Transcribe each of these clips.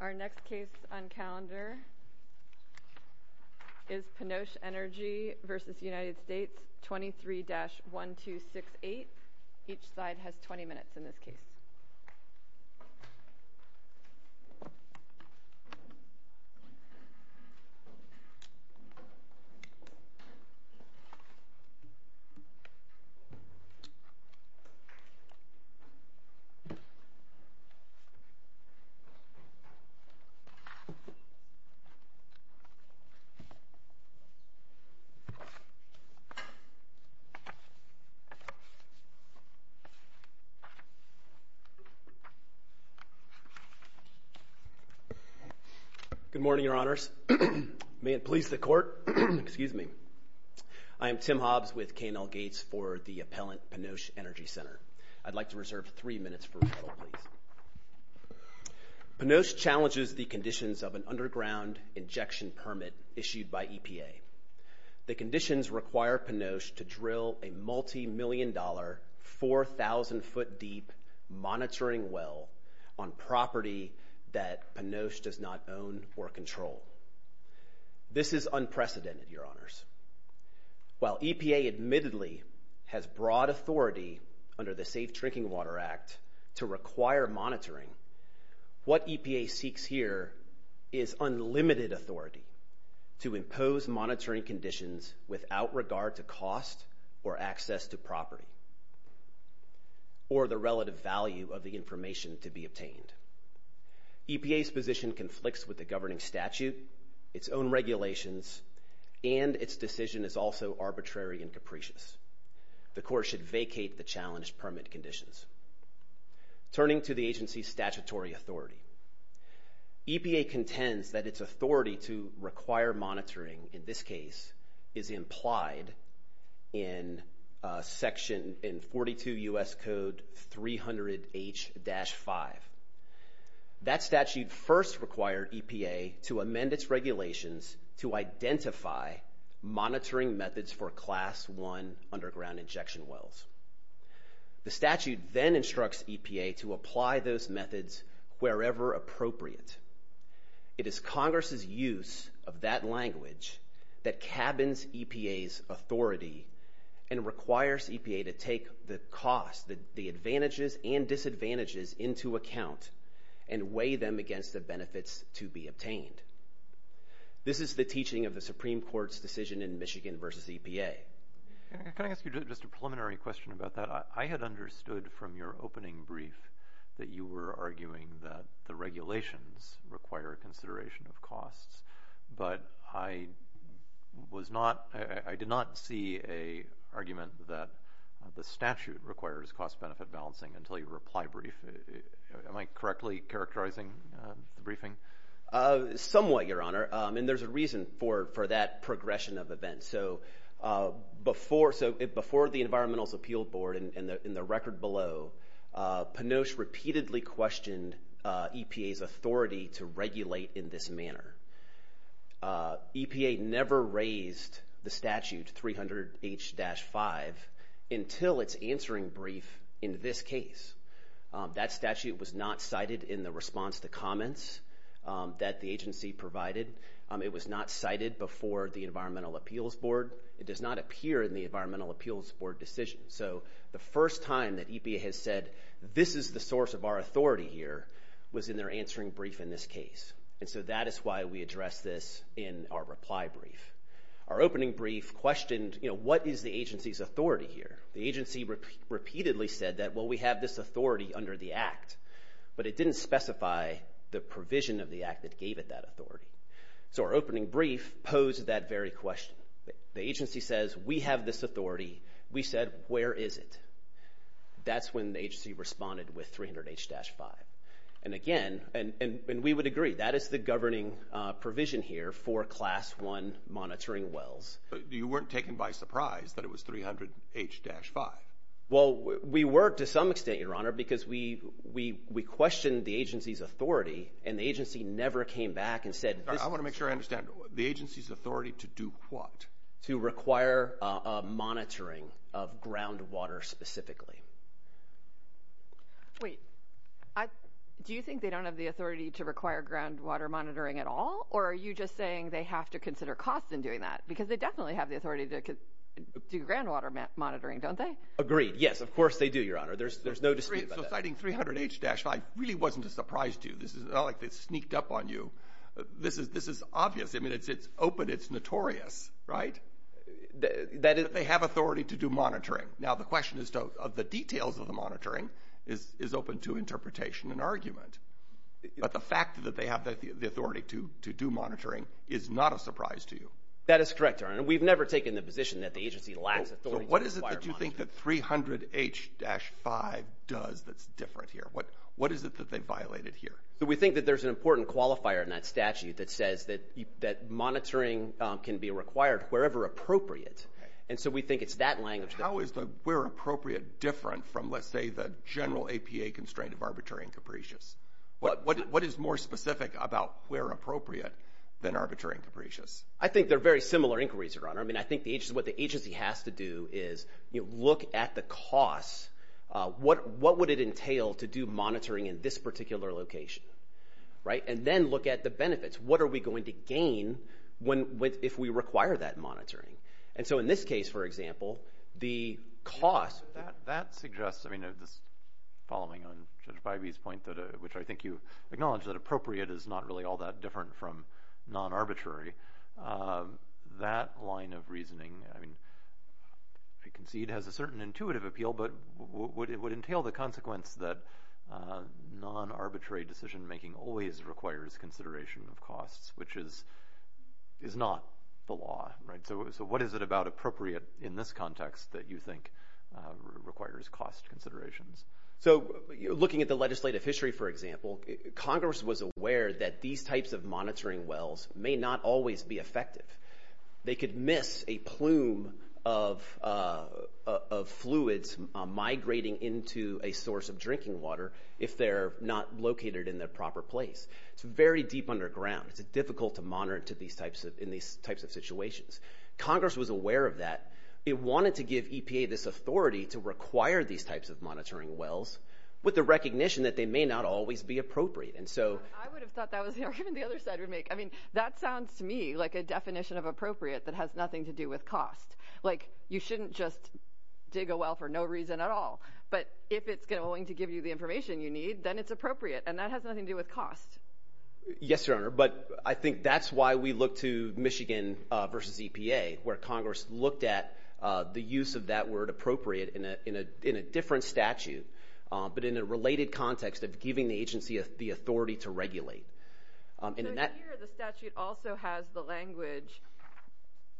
Our next case on calendar is Panoche Energy v. United States 23-1268. Each side has 20 minutes in this case. Good morning, your honors. May it please the court. Excuse me. I am Tim Hobbs with K&L Gates for the appellant Panoche Energy Center. I'd like to reserve three minutes for rebuttal, please. Panoche challenges the conditions of an underground injection permit issued by EPA. The conditions require Panoche to drill a multimillion-dollar, 4,000-foot-deep monitoring well on property that Panoche does not own or control. This is unprecedented, your honors. While EPA admittedly has broad authority under the Safe Drinking Water Act to require monitoring, what EPA seeks here is unlimited authority to impose monitoring conditions without regard to cost or access to property or the relative value of the information to be obtained. EPA's position conflicts with the governing statute, its own regulations, and its decision is also arbitrary and capricious. The court should vacate the challenge permit conditions. Turning to the agency's statutory authority, EPA contends that its authority to require monitoring, in this case, is implied in section, in 42 U.S. Code 300H-5. That statute first required EPA to amend its regulations to identify monitoring methods for Class I underground injection wells. The statute then instructs EPA to apply those methods wherever appropriate. It is Congress's use of that language that cabins EPA's authority and requires EPA to take the cost, the advantages and disadvantages, into account and weigh them against the benefits to be obtained. This is the teaching of the Supreme Court's decision in Michigan v. EPA. Can I ask you just a preliminary question about that? I had understood from your opening brief that you were arguing that the regulations require consideration of costs, but I did not see an argument that the statute requires cost-benefit balancing until your reply brief. Am I correctly characterizing the briefing? Somewhat, Your Honor, and there's a reason for that progression of Panoche repeatedly questioned EPA's authority to regulate in this manner. EPA never raised the statute, 300H-5, until its answering brief in this case. That statute was not cited in the response to comments that the agency provided. It was not cited before the Environmental Appeals Board. It does not appear in the Environmental Appeals Board decision. So the first time that EPA has said, this is the source of our authority here, was in their answering brief in this case. And so that is why we address this in our reply brief. Our opening brief questioned, you know, what is the agency's authority here? The agency repeatedly said that, well, we have this authority under the Act, but it didn't specify the provision of the Act that gave it that authority. So our opening brief posed that very question. The agency says, we have this authority. We said, where is it? That's when the agency responded with 300H-5. And again, and we would agree, that is the governing provision here for Class I monitoring wells. You weren't taken by surprise that it was 300H-5. Well, we were to some extent, Your Honor, because we questioned the agency's authority, and the agency never came back and said, I want to make sure I understand, the agency's authority to do what? To require a monitoring of groundwater specifically. Wait, do you think they don't have the authority to require groundwater monitoring at all? Or are you just saying they have to consider costs in doing that? Because they definitely have the authority to do groundwater monitoring, don't they? Agreed. Yes, of course they do, Your Honor. There's no dispute about that. So citing 300H-5 really wasn't a surprise to you. It's not like they sneaked up on you. This is obvious. I mean, it's open, it's notorious, right? That they have authority to do monitoring. Now, the question is of the details of the monitoring is open to interpretation and argument. But the fact that they have the authority to do monitoring is not a surprise to you. That is correct, Your Honor. And we've never taken the position that the agency lacks authority to require monitoring. So what is it that you think that 300H-5 does that's different here? What is it that they violated here? So we think that there's an important qualifier in that statute that says that monitoring can be required wherever appropriate. And so we think it's that language. How is the where appropriate different from, let's say, the general APA constraint of arbitrary and capricious? What is more specific about where appropriate than arbitrary and capricious? I think they're very similar inquiries, Your Honor. I mean, I look at the costs. What would it entail to do monitoring in this particular location, right? And then look at the benefits. What are we going to gain if we require that monitoring? And so in this case, for example, the cost. That suggests, I mean, this following on Judge Bybee's point, which I think you acknowledge that appropriate is not really all that different from non-arbitrary. That line of reasoning, I mean, if you concede, has a certain intuitive appeal. But what would entail the consequence that non-arbitrary decision making always requires consideration of costs, which is not the law, right? So what is it about appropriate in this context that you think requires cost considerations? So looking at the legislative history, for example, Congress was aware that these types of monitoring wells may not always be effective. They could miss a plume of fluids migrating into a source of drinking water if they're not located in the proper place. It's very deep underground. It's difficult to monitor in these types of situations. Congress was aware of that. It wanted to give EPA this information about monitoring wells with the recognition that they may not always be appropriate. And so I would have thought that was the argument the other side would make. I mean, that sounds to me like a definition of appropriate that has nothing to do with cost. Like, you shouldn't just dig a well for no reason at all. But if it's going to give you the information you need, then it's appropriate. And that has nothing to do with cost. Yes, Your Honor. But I think that's why we look to Michigan versus EPA, where Congress looked at the use of that word, appropriate, in a different statute, but in a related context of giving the agency the authority to regulate. So here the statute also has the language,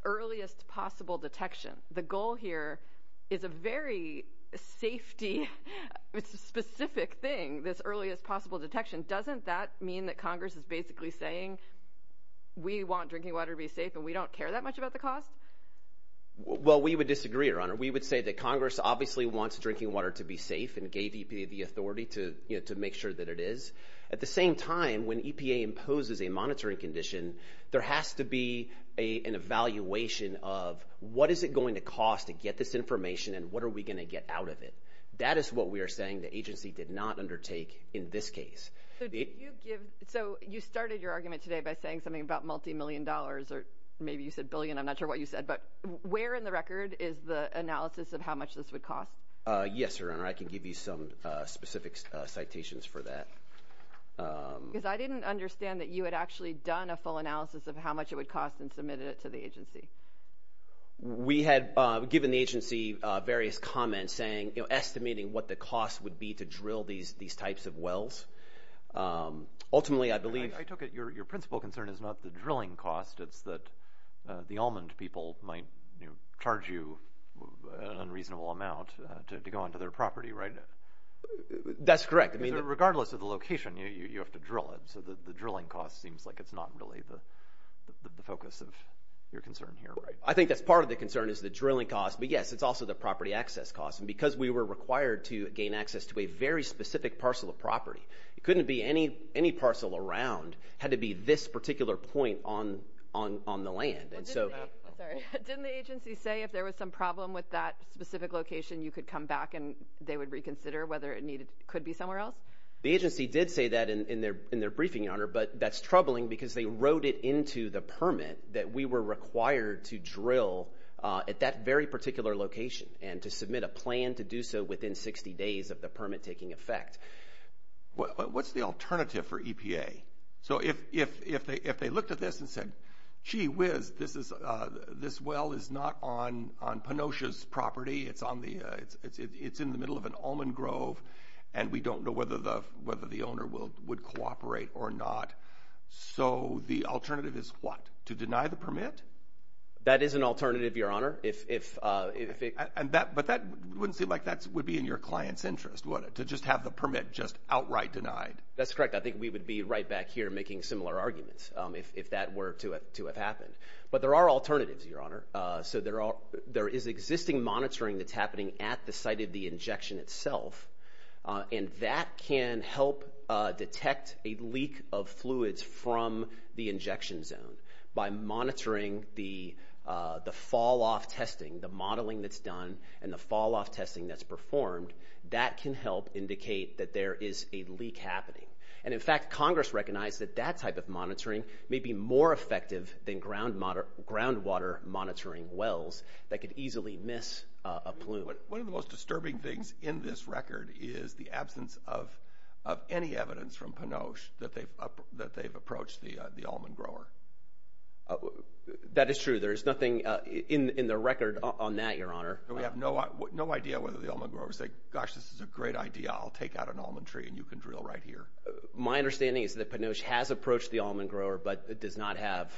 earliest possible detection. The goal here is a very safety-specific thing, this earliest possible detection. Doesn't that mean that Congress is basically saying, we want drinking water to be safe and we don't care that much about the cost? I would say that Congress obviously wants drinking water to be safe and gave EPA the authority to make sure that it is. At the same time, when EPA imposes a monitoring condition, there has to be an evaluation of what is it going to cost to get this information and what are we going to get out of it? That is what we are saying the agency did not undertake in this case. So you started your argument today by saying something about multi-million dollars, or maybe you said billion, I'm not sure what you said. But where in the record is the analysis of how much this would cost? Yes, Your Honor. I can give you some specific citations for that. Because I didn't understand that you had actually done a full analysis of how much it would cost and submitted it to the agency. We had given the agency various comments saying, estimating what the cost would be to drill these types of wells. Ultimately, I believe... I took it your principal concern is not the drilling cost, it's that the almond people might charge you an unreasonable amount to go onto their property, right? That's correct. I mean, regardless of the location, you have to drill it. So the drilling cost seems like it's not really the focus of your concern here, right? I think that's part of the concern is the drilling cost. But yes, it's also the property access cost. And because we were required to gain access to a very specific parcel of property, it couldn't be any parcel around, it had to be this particular point on the land. And so... Didn't the agency say if there was some problem with that specific location, you could come back and they would reconsider whether it could be somewhere else? The agency did say that in their briefing, Your Honor. But that's troubling because they wrote it into the permit that we were required to drill at that very particular location and to submit a plan to do so within 60 days of the permit taking effect. What's the alternative for EPA? So if they looked at this and said, gee whiz, this well is not on Penosia's property, it's in the middle of an almond grove, and we don't know whether the owner would cooperate or not. So the alternative is what? To deny the permit? That is an alternative, Your Honor. But that wouldn't seem like that would be in your client's interest, would it? To just have the permit just outright denied? That's correct. I think we would be right back here making similar arguments if that were to have detect a leak of fluids from the injection zone by monitoring the fall-off testing, the modeling that's done, and the fall-off testing that's performed. That can help indicate that there is a leak happening. And in fact, Congress recognized that that type of monitoring may be more effective than groundwater monitoring wells that could easily miss a plume. One of the most disturbing things in this record is the absence of any evidence from Penoche that they've approached the almond grower. That is true. There is nothing in the record on that, Your Honor. We have no idea whether the almond grower would say, gosh, this is a great idea. I'll take out an almond tree and you can drill right here. My understanding is that Penoche has approached the almond grower but does not have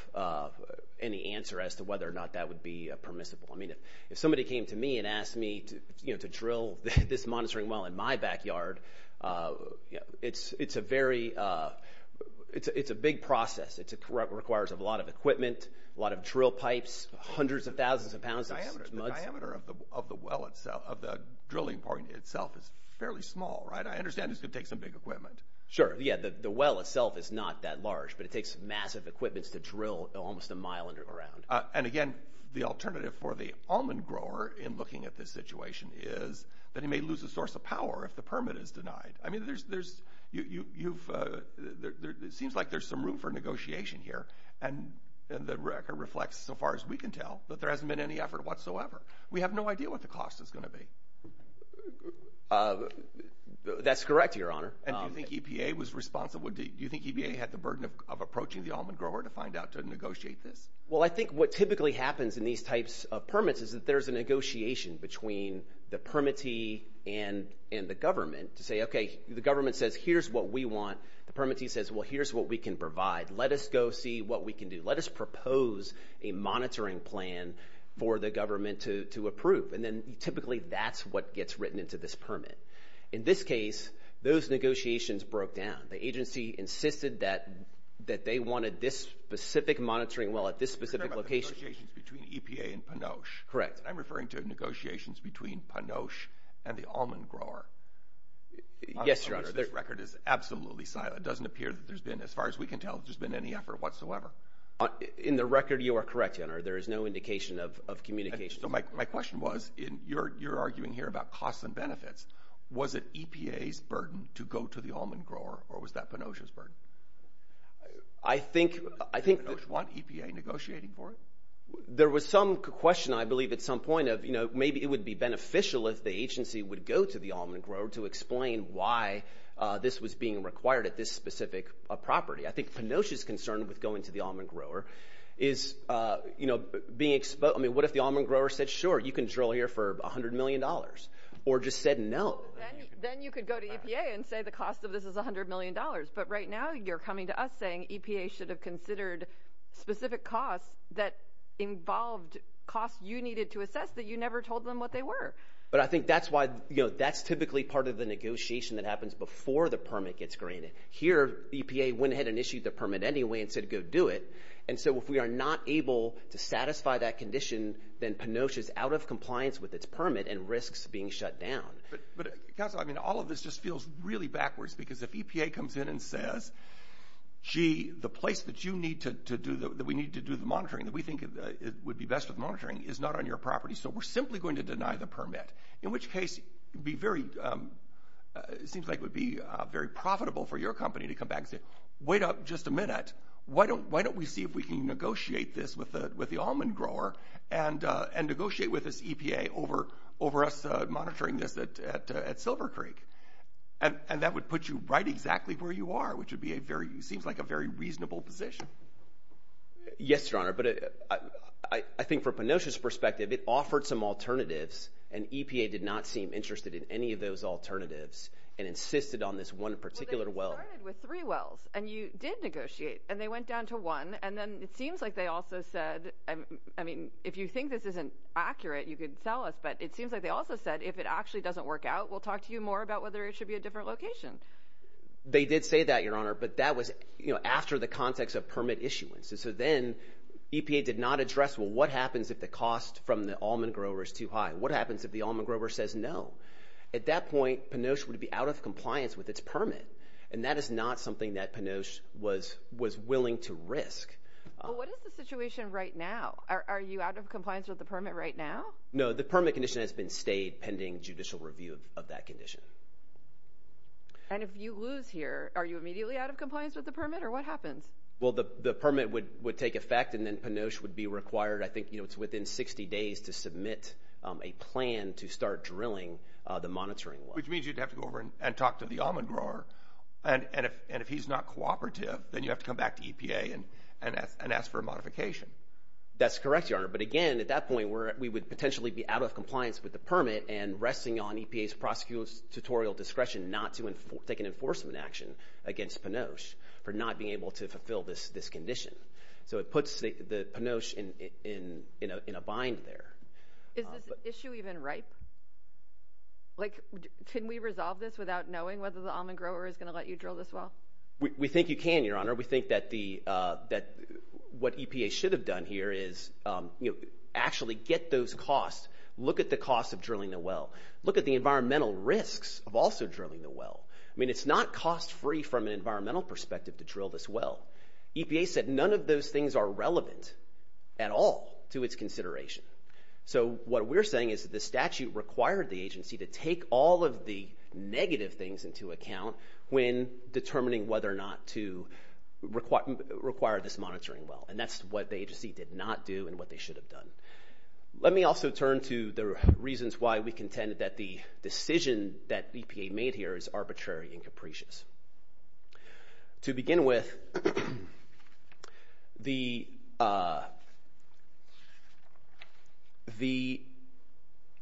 any answer as to whether or not that would be permissible. I mean, if somebody came to me and asked me to drill this monitoring well in my backyard, it's a very – it's a big process. It requires a lot of equipment, a lot of drill pipes, hundreds of thousands of pounds of smudges. The diameter of the drilling point itself is fairly small, right? I understand it's going to take some big equipment. Sure. Yeah, the well itself is not that large, but it takes massive equipment to drill almost a mile around. And again, the alternative for the almond grower in looking at this situation is that he may lose a source of power if the permit is denied. I mean, there's – you've – it seems like there's some room for negotiation here. And the record reflects, so far as we can tell, that there hasn't been any effort whatsoever. We have no idea what the cost is going to be. That's correct, Your Honor. And do you think EPA was responsible – do you think EPA had the burden of approaching the almond grower to find out to negotiate this? Well, I think what typically happens in these types of permits is that there's a negotiation between the permittee and the government to say, okay, the government says, here's what we want. The permittee says, well, here's what we can provide. Let us go see what we can do. Let us propose a monitoring plan for the government to approve. And then typically that's what gets written into this permit. In this case, those negotiations broke down. The agency insisted that they wanted this specific monitoring well at this specific location. You're talking about negotiations between EPA and Pinoche. Correct. I'm referring to negotiations between Pinoche and the almond grower. Yes, Your Honor. This record is absolutely silent. It doesn't appear that there's been, as far as we can tell, that there's been any effort whatsoever. In the record, you are correct, Your Honor. There is no indication of communication. So my question was, you're arguing here about costs and benefits. Was it EPA's burden to go to the almond grower, or was that Pinoche's burden? I think— Did Pinoche want EPA negotiating for it? There was some question, I believe, at some point of, you know, maybe it would be beneficial if the agency would go to the almond grower to explain why this was being required at this specific property. I think Pinoche's concern with going to the almond grower is, you know, being— I mean, what if the almond grower said, sure, you can drill here for $100 million or just said no? Then you could go to EPA and say the cost of this is $100 million. But right now you're coming to us saying EPA should have considered specific costs that involved costs you needed to assess that you never told them what they were. But I think that's why—you know, that's typically part of the negotiation that happens before the permit gets granted. Here EPA went ahead and issued the permit anyway and said go do it. And so if we are not able to satisfy that condition, then Pinoche is out of compliance with its permit and risks being shut down. But, counsel, I mean, all of this just feels really backwards because if EPA comes in and says, gee, the place that you need to do—that we need to do the monitoring, that we think would be best for the monitoring is not on your property, so we're simply going to deny the permit, in which case it would be very—seems like it would be very profitable for your company to come back and say, wait up just a minute, why don't we see if we can negotiate this with the almond grower and negotiate with this EPA over us monitoring this at Silver Creek? And that would put you right exactly where you are, which would be a very—seems like a very reasonable position. Yes, Your Honor, but I think from Pinoche's perspective, it offered some alternatives, and EPA did not seem interested in any of those alternatives and insisted on this one particular well. Well, they started with three wells, and you did negotiate, and they went down to one, and then it seems like they also said—I mean, if you think this isn't accurate, you can tell us, but it seems like they also said if it actually doesn't work out, we'll talk to you more about whether it should be a different location. They did say that, Your Honor, but that was after the context of permit issuance. And so then EPA did not address, well, what happens if the cost from the almond grower is too high? What happens if the almond grower says no? At that point, Pinoche would be out of compliance with its permit, and that is not something that Pinoche was willing to risk. Well, what is the situation right now? Are you out of compliance with the permit right now? No, the permit condition has been stayed pending judicial review of that condition. And if you lose here, are you immediately out of compliance with the permit, or what happens? Well, the permit would take effect, and then Pinoche would be required, I think, you know, it's within 60 days to submit a plan to start drilling the monitoring well. Which means you'd have to go over and talk to the almond grower, and if he's not cooperative, then you have to come back to EPA and ask for a modification. That's correct, Your Honor, but again, at that point, we would potentially be out of compliance with the permit and resting on EPA's prosecutorial discretion not to take an enforcement action against Pinoche for not being able to fulfill this condition. So it puts Pinoche in a bind there. Is this issue even ripe? Like, can we resolve this without knowing whether the almond grower is going to let you drill this well? We think you can, Your Honor. We think that what EPA should have done here is, you know, actually get those costs, look at the cost of drilling the well, look at the environmental risks of also drilling the well. I mean, it's not cost-free from an environmental perspective to drill this well. EPA said none of those things are relevant at all to its consideration. So what we're saying is that the statute required the agency to take all of the negative things into account when determining whether or not to require this monitoring well, and that's what the agency did not do and what they should have done. Let me also turn to the reasons why we contend that the decision that EPA made here is arbitrary and capricious. To begin with, the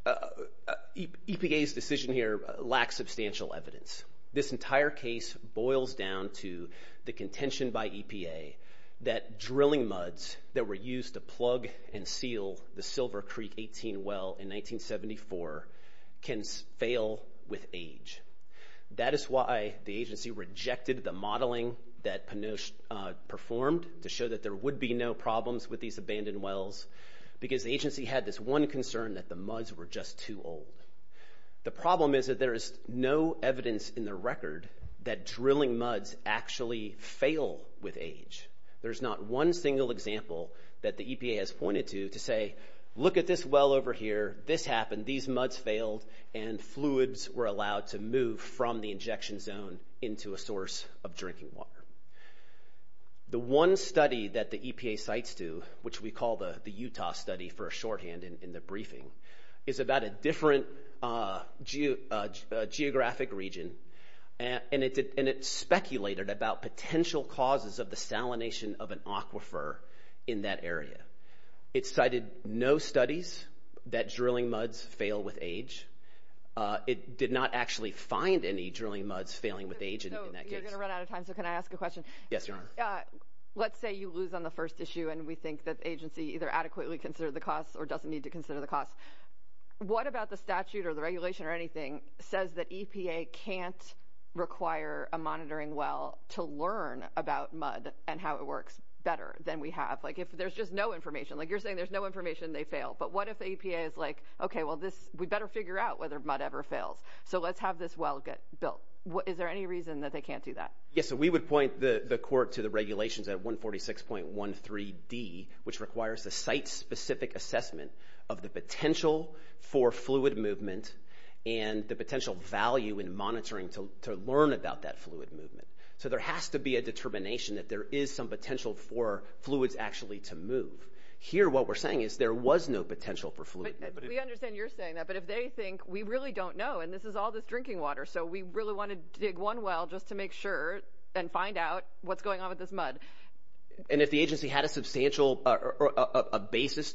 EPA's decision here lacks substantial evidence. This entire case boils down to the contention by EPA that drilling muds that were used to plug and seal the Silver Creek 18 well in 1974 can fail with age. That is why the agency rejected the modeling that Pinoche performed to show that there would be no problems with these abandoned wells, because the agency had this one concern that the muds were just too old. The problem is that there is no evidence in the record that drilling muds actually fail with age. There's not one single example that the EPA has pointed to to say, look at this well over here, this happened, these muds failed, and fluids were allowed to move from the injection zone into a source of drinking water. The one study that the EPA cites to, which we call the Utah study for a shorthand in the briefing, is about a different geographic region, and it speculated about potential causes of the salination of an aquifer in that area. It cited no studies that drilling muds fail with age. It did not actually find any drilling muds failing with age in that case. You're going to run out of time, so can I ask a question? Yes, Your Honor. Let's say you lose on the first issue, and we think that the agency either adequately considered the costs or doesn't need to consider the costs. What about the statute or the regulation or anything says that EPA can't require a monitoring well to learn about mud and how it works better than we have? Like if there's just no information, like you're saying there's no information, they fail. But what if the EPA is like, okay, well, we better figure out whether mud ever fails, so let's have this well get built. Is there any reason that they can't do that? Yes, so we would point the court to the regulations at 146.13d, which requires a site-specific assessment of the potential for fluid movement and the potential value in monitoring to learn about that fluid movement. So there has to be a determination that there is some potential for fluids actually to move. Here, what we're saying is there was no potential for fluid movement. We understand you're saying that, but if they think we really don't know, and this is all this drinking water, so we really want to dig one well just to make sure and find out what's going on with this mud. And if the agency had a substantial basis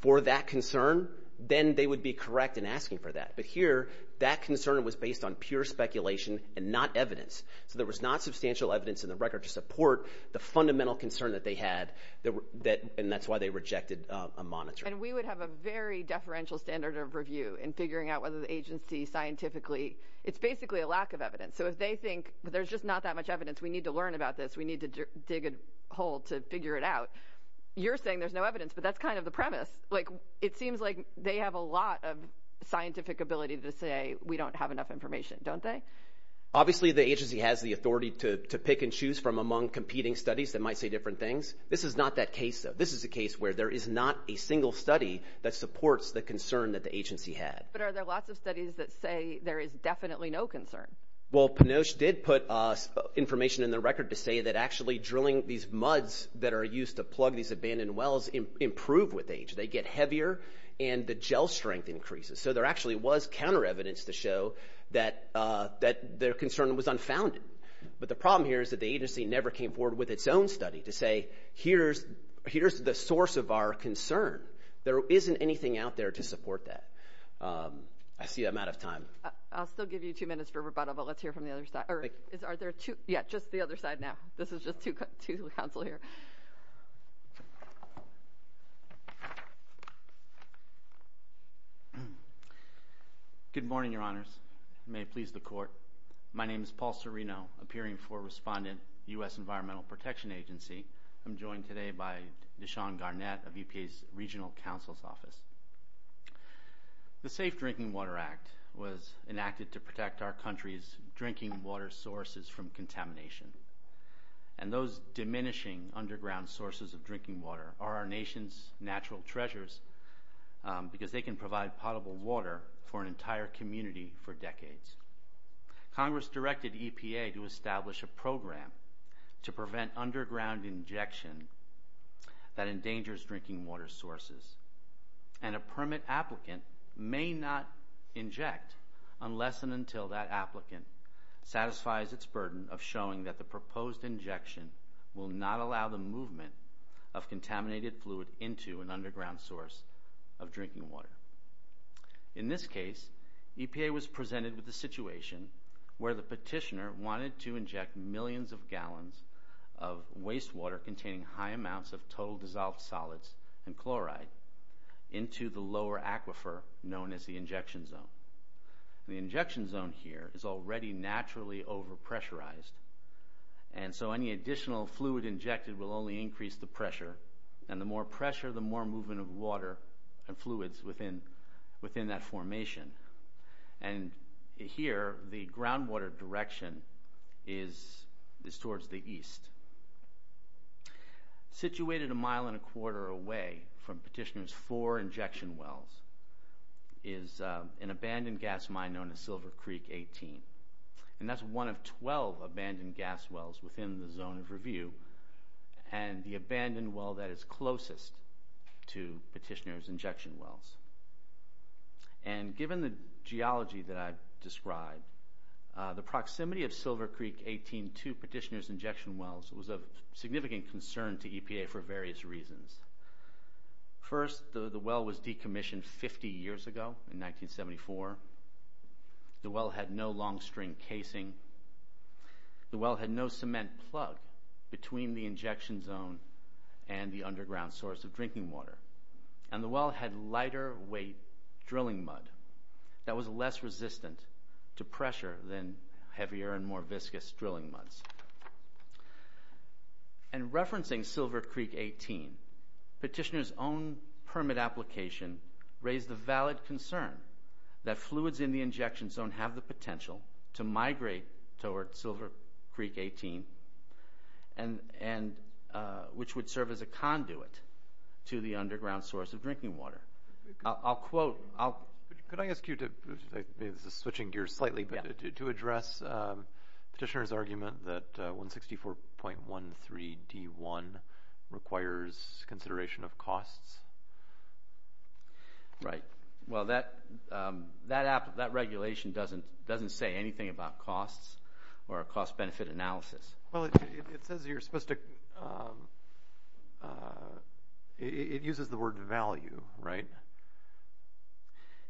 for that concern, then they would be correct in asking for that. But here, that concern was based on pure speculation and not evidence. So there was not substantial evidence in the record to support the fundamental concern that they had, and that's why they rejected a monitor. And we would have a very deferential standard of review in figuring out whether the agency scientifically – it's basically a lack of evidence. So if they think there's just not that much evidence, we need to learn about this, we need to dig a hole to figure it out. You're saying there's no evidence, but that's kind of the premise. It seems like they have a lot of scientific ability to say we don't have enough information, don't they? Obviously, the agency has the authority to pick and choose from among competing studies that might say different things. This is not that case, though. This is a case where there is not a single study that supports the concern that the agency had. But are there lots of studies that say there is definitely no concern? Well, Panosh did put information in the record to say that actually drilling these muds that are used to plug these abandoned wells improve with age. They get heavier, and the gel strength increases. So there actually was counter evidence to show that their concern was unfounded. But the problem here is that the agency never came forward with its own study to say here's the source of our concern. There isn't anything out there to support that. I see I'm out of time. I'll still give you two minutes for rebuttal, but let's hear from the other side. Are there two – yeah, just the other side now. This is just two to the counsel here. Good morning, Your Honors. May it please the court. My name is Paul Cirino, appearing for Respondent, U.S. Environmental Protection Agency. I'm joined today by Deshawn Garnett of EPA's Regional Counsel's Office. The Safe Drinking Water Act was enacted to protect our country's drinking water sources from contamination. And those diminishing underground sources of drinking water are our nation's natural treasures because they can provide potable water for an entire community for decades. Congress directed EPA to establish a program to prevent underground injection that endangers drinking water sources. And a permit applicant may not inject unless and until that applicant satisfies its burden of showing that the proposed injection will not allow the movement of contaminated fluid into an underground source of drinking water. In this case, EPA was presented with the situation where the petitioner wanted to inject millions of gallons of wastewater containing high amounts of total dissolved solids and chloride into the lower aquifer known as the injection zone. The injection zone here is already naturally over-pressurized. And so any additional fluid injected will only increase the pressure. And the more pressure, the more movement of water and fluids within that formation. And here, the groundwater direction is towards the east. Situated a mile and a quarter away from petitioner's four injection wells is an abandoned gas mine known as Silver Creek 18. And that's one of 12 abandoned gas wells within the zone of review. And the abandoned well that is closest to petitioner's injection wells. And given the geology that I've described, the proximity of Silver Creek 18 to petitioner's injection wells was of significant concern to EPA for various reasons. First, the well was decommissioned 50 years ago in 1974. The well had no long string casing. The well had no cement plug between the injection zone and the underground source of drinking water. And the well had lighter weight drilling mud that was less resistant to pressure than heavier and more viscous drilling muds. And referencing Silver Creek 18, petitioner's own permit application raised the valid concern that fluids in the injection zone have the potential to migrate towards Silver Creek 18. And which would serve as a conduit to the underground source of drinking water. I'll quote. Could I ask you to, this is switching gears slightly, but to address petitioner's argument that 164.13D1 requires consideration of costs? Right. Well, that regulation doesn't say anything about costs or a cost-benefit analysis. Well, it says you're supposed to, it uses the word value, right?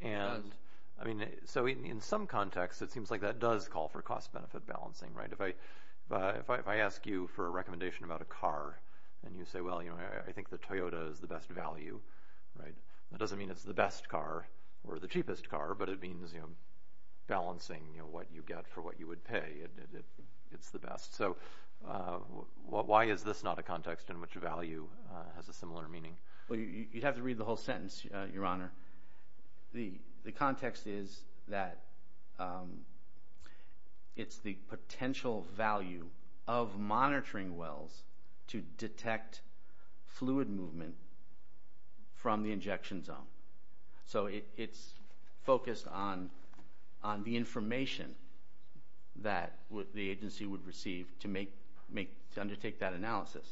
It does. And, I mean, so in some context, it seems like that does call for cost-benefit balancing, right? If I ask you for a recommendation about a car and you say, well, you know, I think the Toyota is the best value, right? That doesn't mean it's the best car or the cheapest car, but it means, you know, balancing, you know, what you get for what you would pay. It's the best. So why is this not a context in which value has a similar meaning? Well, you'd have to read the whole sentence, Your Honor. The context is that it's the potential value of monitoring wells to detect fluid movement from the injection zone. So it's focused on the information that the agency would receive to undertake that analysis.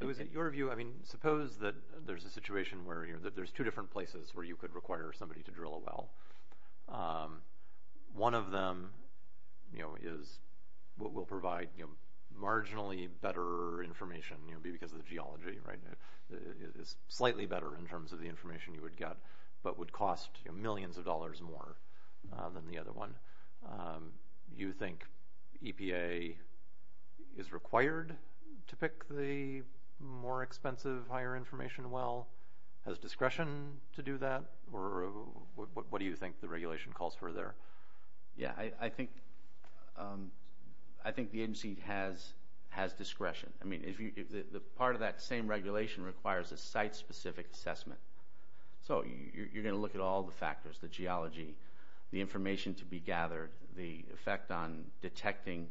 It was in your view, I mean, suppose that there's a situation where there's two different places where you could require somebody to drill a well. One of them, you know, is what will provide marginally better information, you know, because of the geology, right? It is slightly better in terms of the information you would get, but would cost millions of dollars more than the other one. You think EPA is required to pick the more expensive, higher information well? Has discretion to do that, or what do you think the regulation calls for there? Yeah, I think the agency has discretion. I mean, part of that same regulation requires a site-specific assessment. So you're going to look at all the factors, the geology, the information to be gathered, the effect on detecting.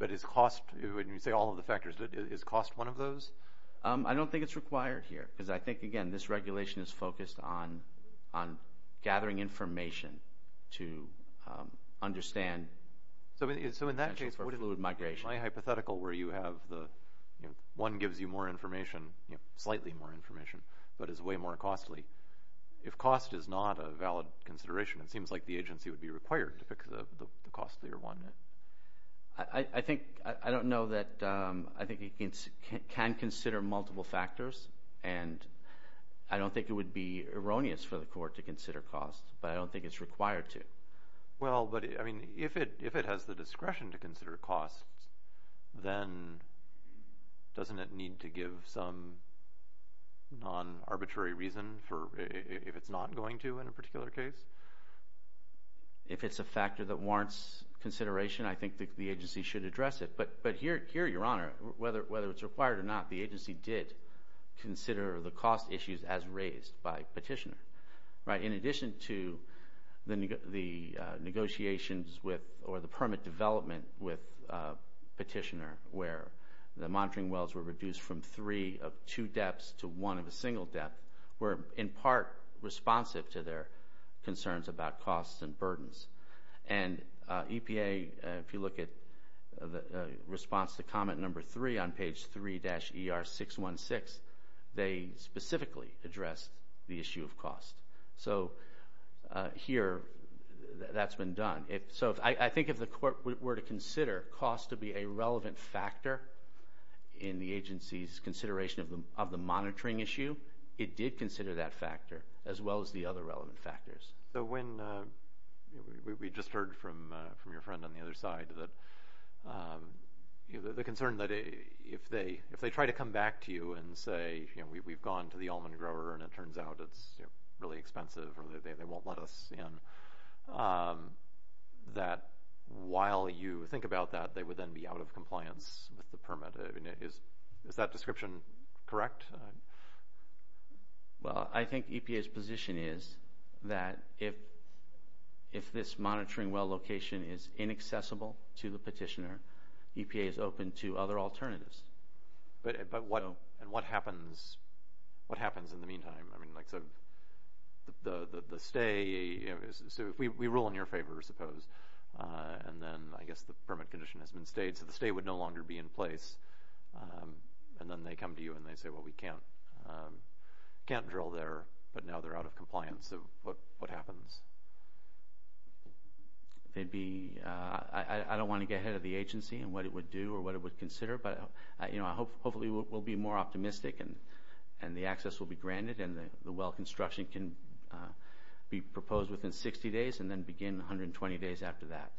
But is cost, when you say all of the factors, is cost one of those? I don't think it's required here, because I think, again, this regulation is focused on gathering information to understand potential for fluid migration. In my hypothetical where you have the, you know, one gives you more information, you know, slightly more information, but is way more costly. If cost is not a valid consideration, it seems like the agency would be required to pick the costlier one. I think, I don't know that, I think it can consider multiple factors, and I don't think it would be erroneous for the court to consider cost, but I don't think it's required to. Well, but, I mean, if it has the discretion to consider cost, then doesn't it need to give some non-arbitrary reason if it's not going to in a particular case? If it's a factor that warrants consideration, I think the agency should address it. But here, Your Honor, whether it's required or not, the agency did consider the cost issues as raised by petitioner. In addition to the negotiations with, or the permit development with petitioner, where the monitoring wells were reduced from three of two depths to one of a single depth, were in part responsive to their concerns about costs and burdens. And EPA, if you look at the response to comment number three on page 3-ER616, they specifically addressed the issue of cost. So here, that's been done. So I think if the court were to consider cost to be a relevant factor in the agency's consideration of the monitoring issue, it did consider that factor, as well as the other relevant factors. So when we just heard from your friend on the other side that the concern that if they try to come back to you and say, you know, we've gone to the almond grower and it turns out it's really expensive or they won't let us in, that while you think about that, they would then be out of compliance with the permit. Is that description correct? Well, I think EPA's position is that if this monitoring well location is inaccessible to the petitioner, EPA is open to other alternatives. But what happens in the meantime? I mean, like, so the stay, so we rule in your favor, I suppose, and then I guess the permit condition has been stayed, so the stay would no longer be in place. And then they come to you and they say, well, we can't drill there, but now they're out of compliance. So what happens? I don't want to get ahead of the agency and what it would do or what it would consider, but, you know, hopefully we'll be more optimistic and the access will be granted and the well construction can be proposed within 60 days and then begin 120 days after that.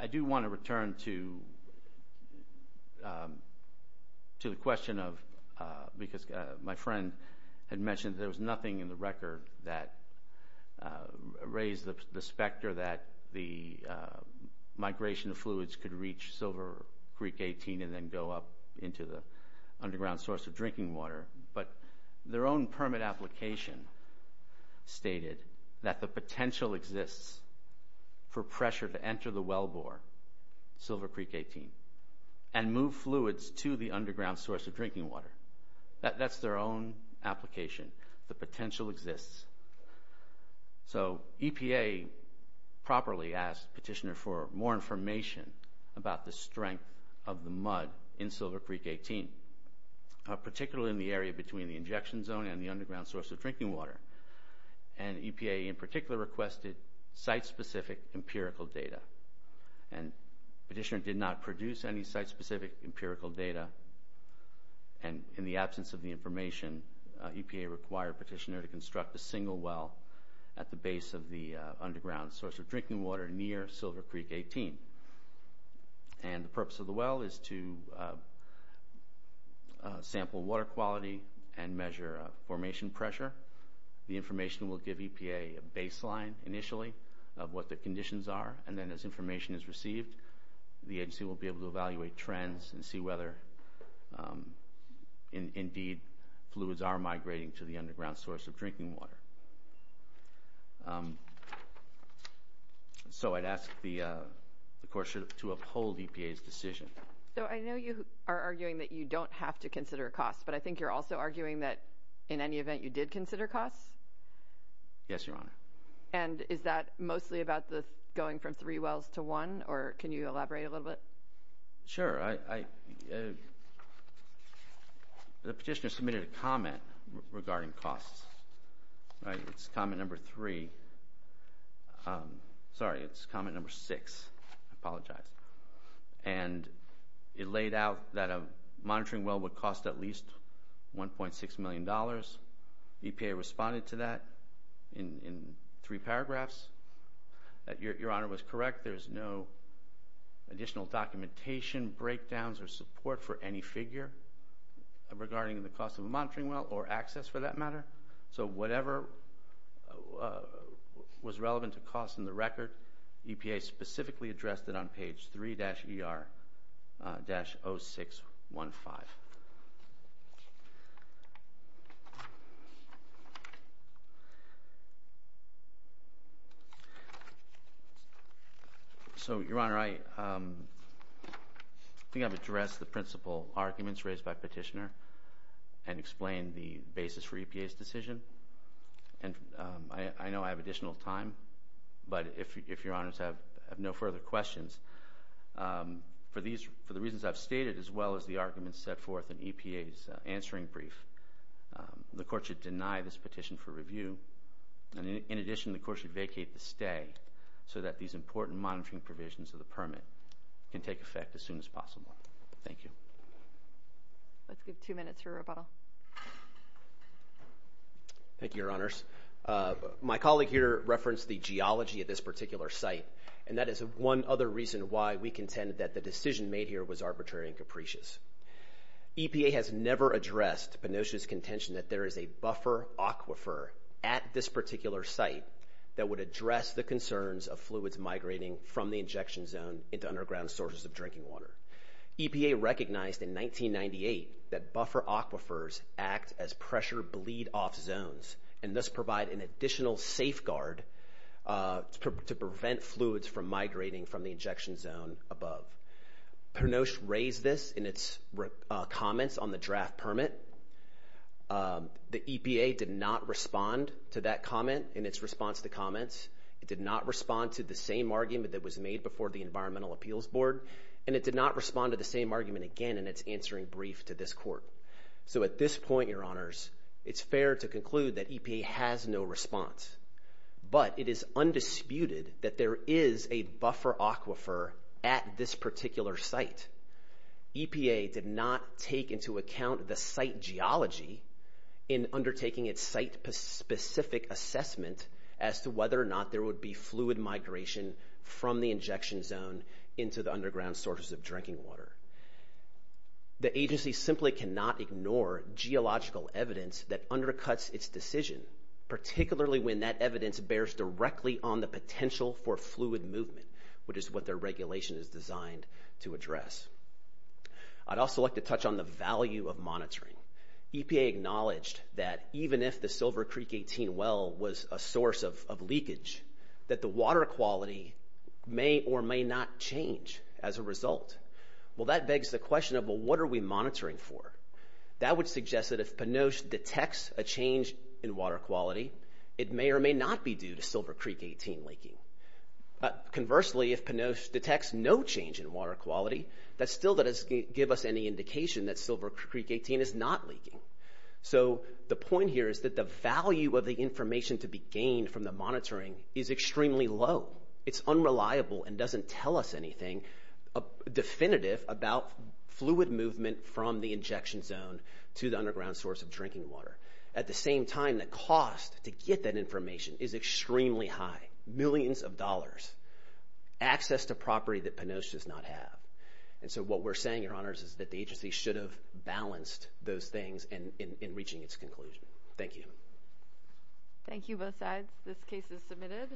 I do want to return to the question of, because my friend had mentioned there was nothing in the record that raised the specter that the migration of fluids could reach Silver Creek 18 and then go up into the underground source of drinking water, but their own permit application stated that the potential exists for pressure to enter the wellbore, Silver Creek 18, and move fluids to the underground source of drinking water. That's their own application. The potential exists. So EPA properly asked Petitioner for more information about the strength of the mud in Silver Creek 18, particularly in the area between the injection zone and the underground source of drinking water, and EPA in particular requested site-specific empirical data. And Petitioner did not produce any site-specific empirical data, and in the absence of the information, EPA required Petitioner to construct a single well at the base of the underground source of drinking water near Silver Creek 18. And the purpose of the well is to sample water quality and measure formation pressure. The information will give EPA a baseline initially of what the conditions are, and then as information is received, the agency will be able to evaluate trends and see whether indeed fluids are migrating to the underground source of drinking water. So I'd ask the courts to uphold EPA's decision. So I know you are arguing that you don't have to consider costs, but I think you're also arguing that in any event you did consider costs? Yes, Your Honor. And is that mostly about going from three wells to one, or can you elaborate a little bit? Sure. The Petitioner submitted a comment regarding costs. It's comment number three. Sorry, it's comment number six. I apologize. And it laid out that a monitoring well would cost at least $1.6 million. EPA responded to that in three paragraphs. Your Honor was correct. There is no additional documentation, breakdowns, or support for any figure regarding the cost of a monitoring well or access for that matter. So whatever was relevant to cost in the record, EPA specifically addressed it on page 3-ER-0615. So, Your Honor, I think I've addressed the principal arguments raised by Petitioner and explained the basis for EPA's decision. I know I have additional time, but if Your Honors have no further questions, for the reasons I've stated as well as the arguments set forth in EPA's answering brief, the Court should deny this petition for review. In addition, the Court should vacate the stay so that these important monitoring provisions of the permit can take effect as soon as possible. Thank you. Let's give two minutes for rebuttal. Thank you, Your Honors. My colleague here referenced the geology of this particular site, and that is one other reason why we contend that the decision made here was arbitrary and capricious. EPA has never addressed Penoche's contention that there is a buffer aquifer at this particular site that would address the concerns of fluids migrating from the injection zone into underground sources of drinking water. EPA recognized in 1998 that buffer aquifers act as pressure bleed-off zones and thus provide an additional safeguard to prevent fluids from migrating from the injection zone above. Penoche raised this in its comments on the draft permit. The EPA did not respond to that comment in its response to comments. It did not respond to the same argument that was made before the Environmental Appeals Board, and it did not respond to the same argument again in its answering brief to this Court. So at this point, Your Honors, it's fair to conclude that EPA has no response, but it is undisputed that there is a buffer aquifer at this particular site. EPA did not take into account the site geology in undertaking its site-specific assessment as to whether or not there would be fluid migration from the injection zone into the underground sources of drinking water. The agency simply cannot ignore geological evidence that undercuts its decision, particularly when that evidence bears directly on the potential for fluid movement, which is what their regulation is designed to address. EPA acknowledged that even if the Silver Creek 18 well was a source of leakage, that the water quality may or may not change as a result. Well, that begs the question of, well, what are we monitoring for? That would suggest that if Penoche detects a change in water quality, it may or may not be due to Silver Creek 18 leaking. Conversely, if Penoche detects no change in water quality, that still doesn't give us any indication that Silver Creek 18 is not leaking. So the point here is that the value of the information to be gained from the monitoring is extremely low. It's unreliable and doesn't tell us anything definitive about fluid movement from the injection zone to the underground source of drinking water. At the same time, the cost to get that information is extremely high, millions of dollars. Access to property that Penoche does not have. And so what we're saying, Your Honors, is that the agency should have balanced those things in reaching its conclusion. Thank you. Thank you, both sides. This case is submitted.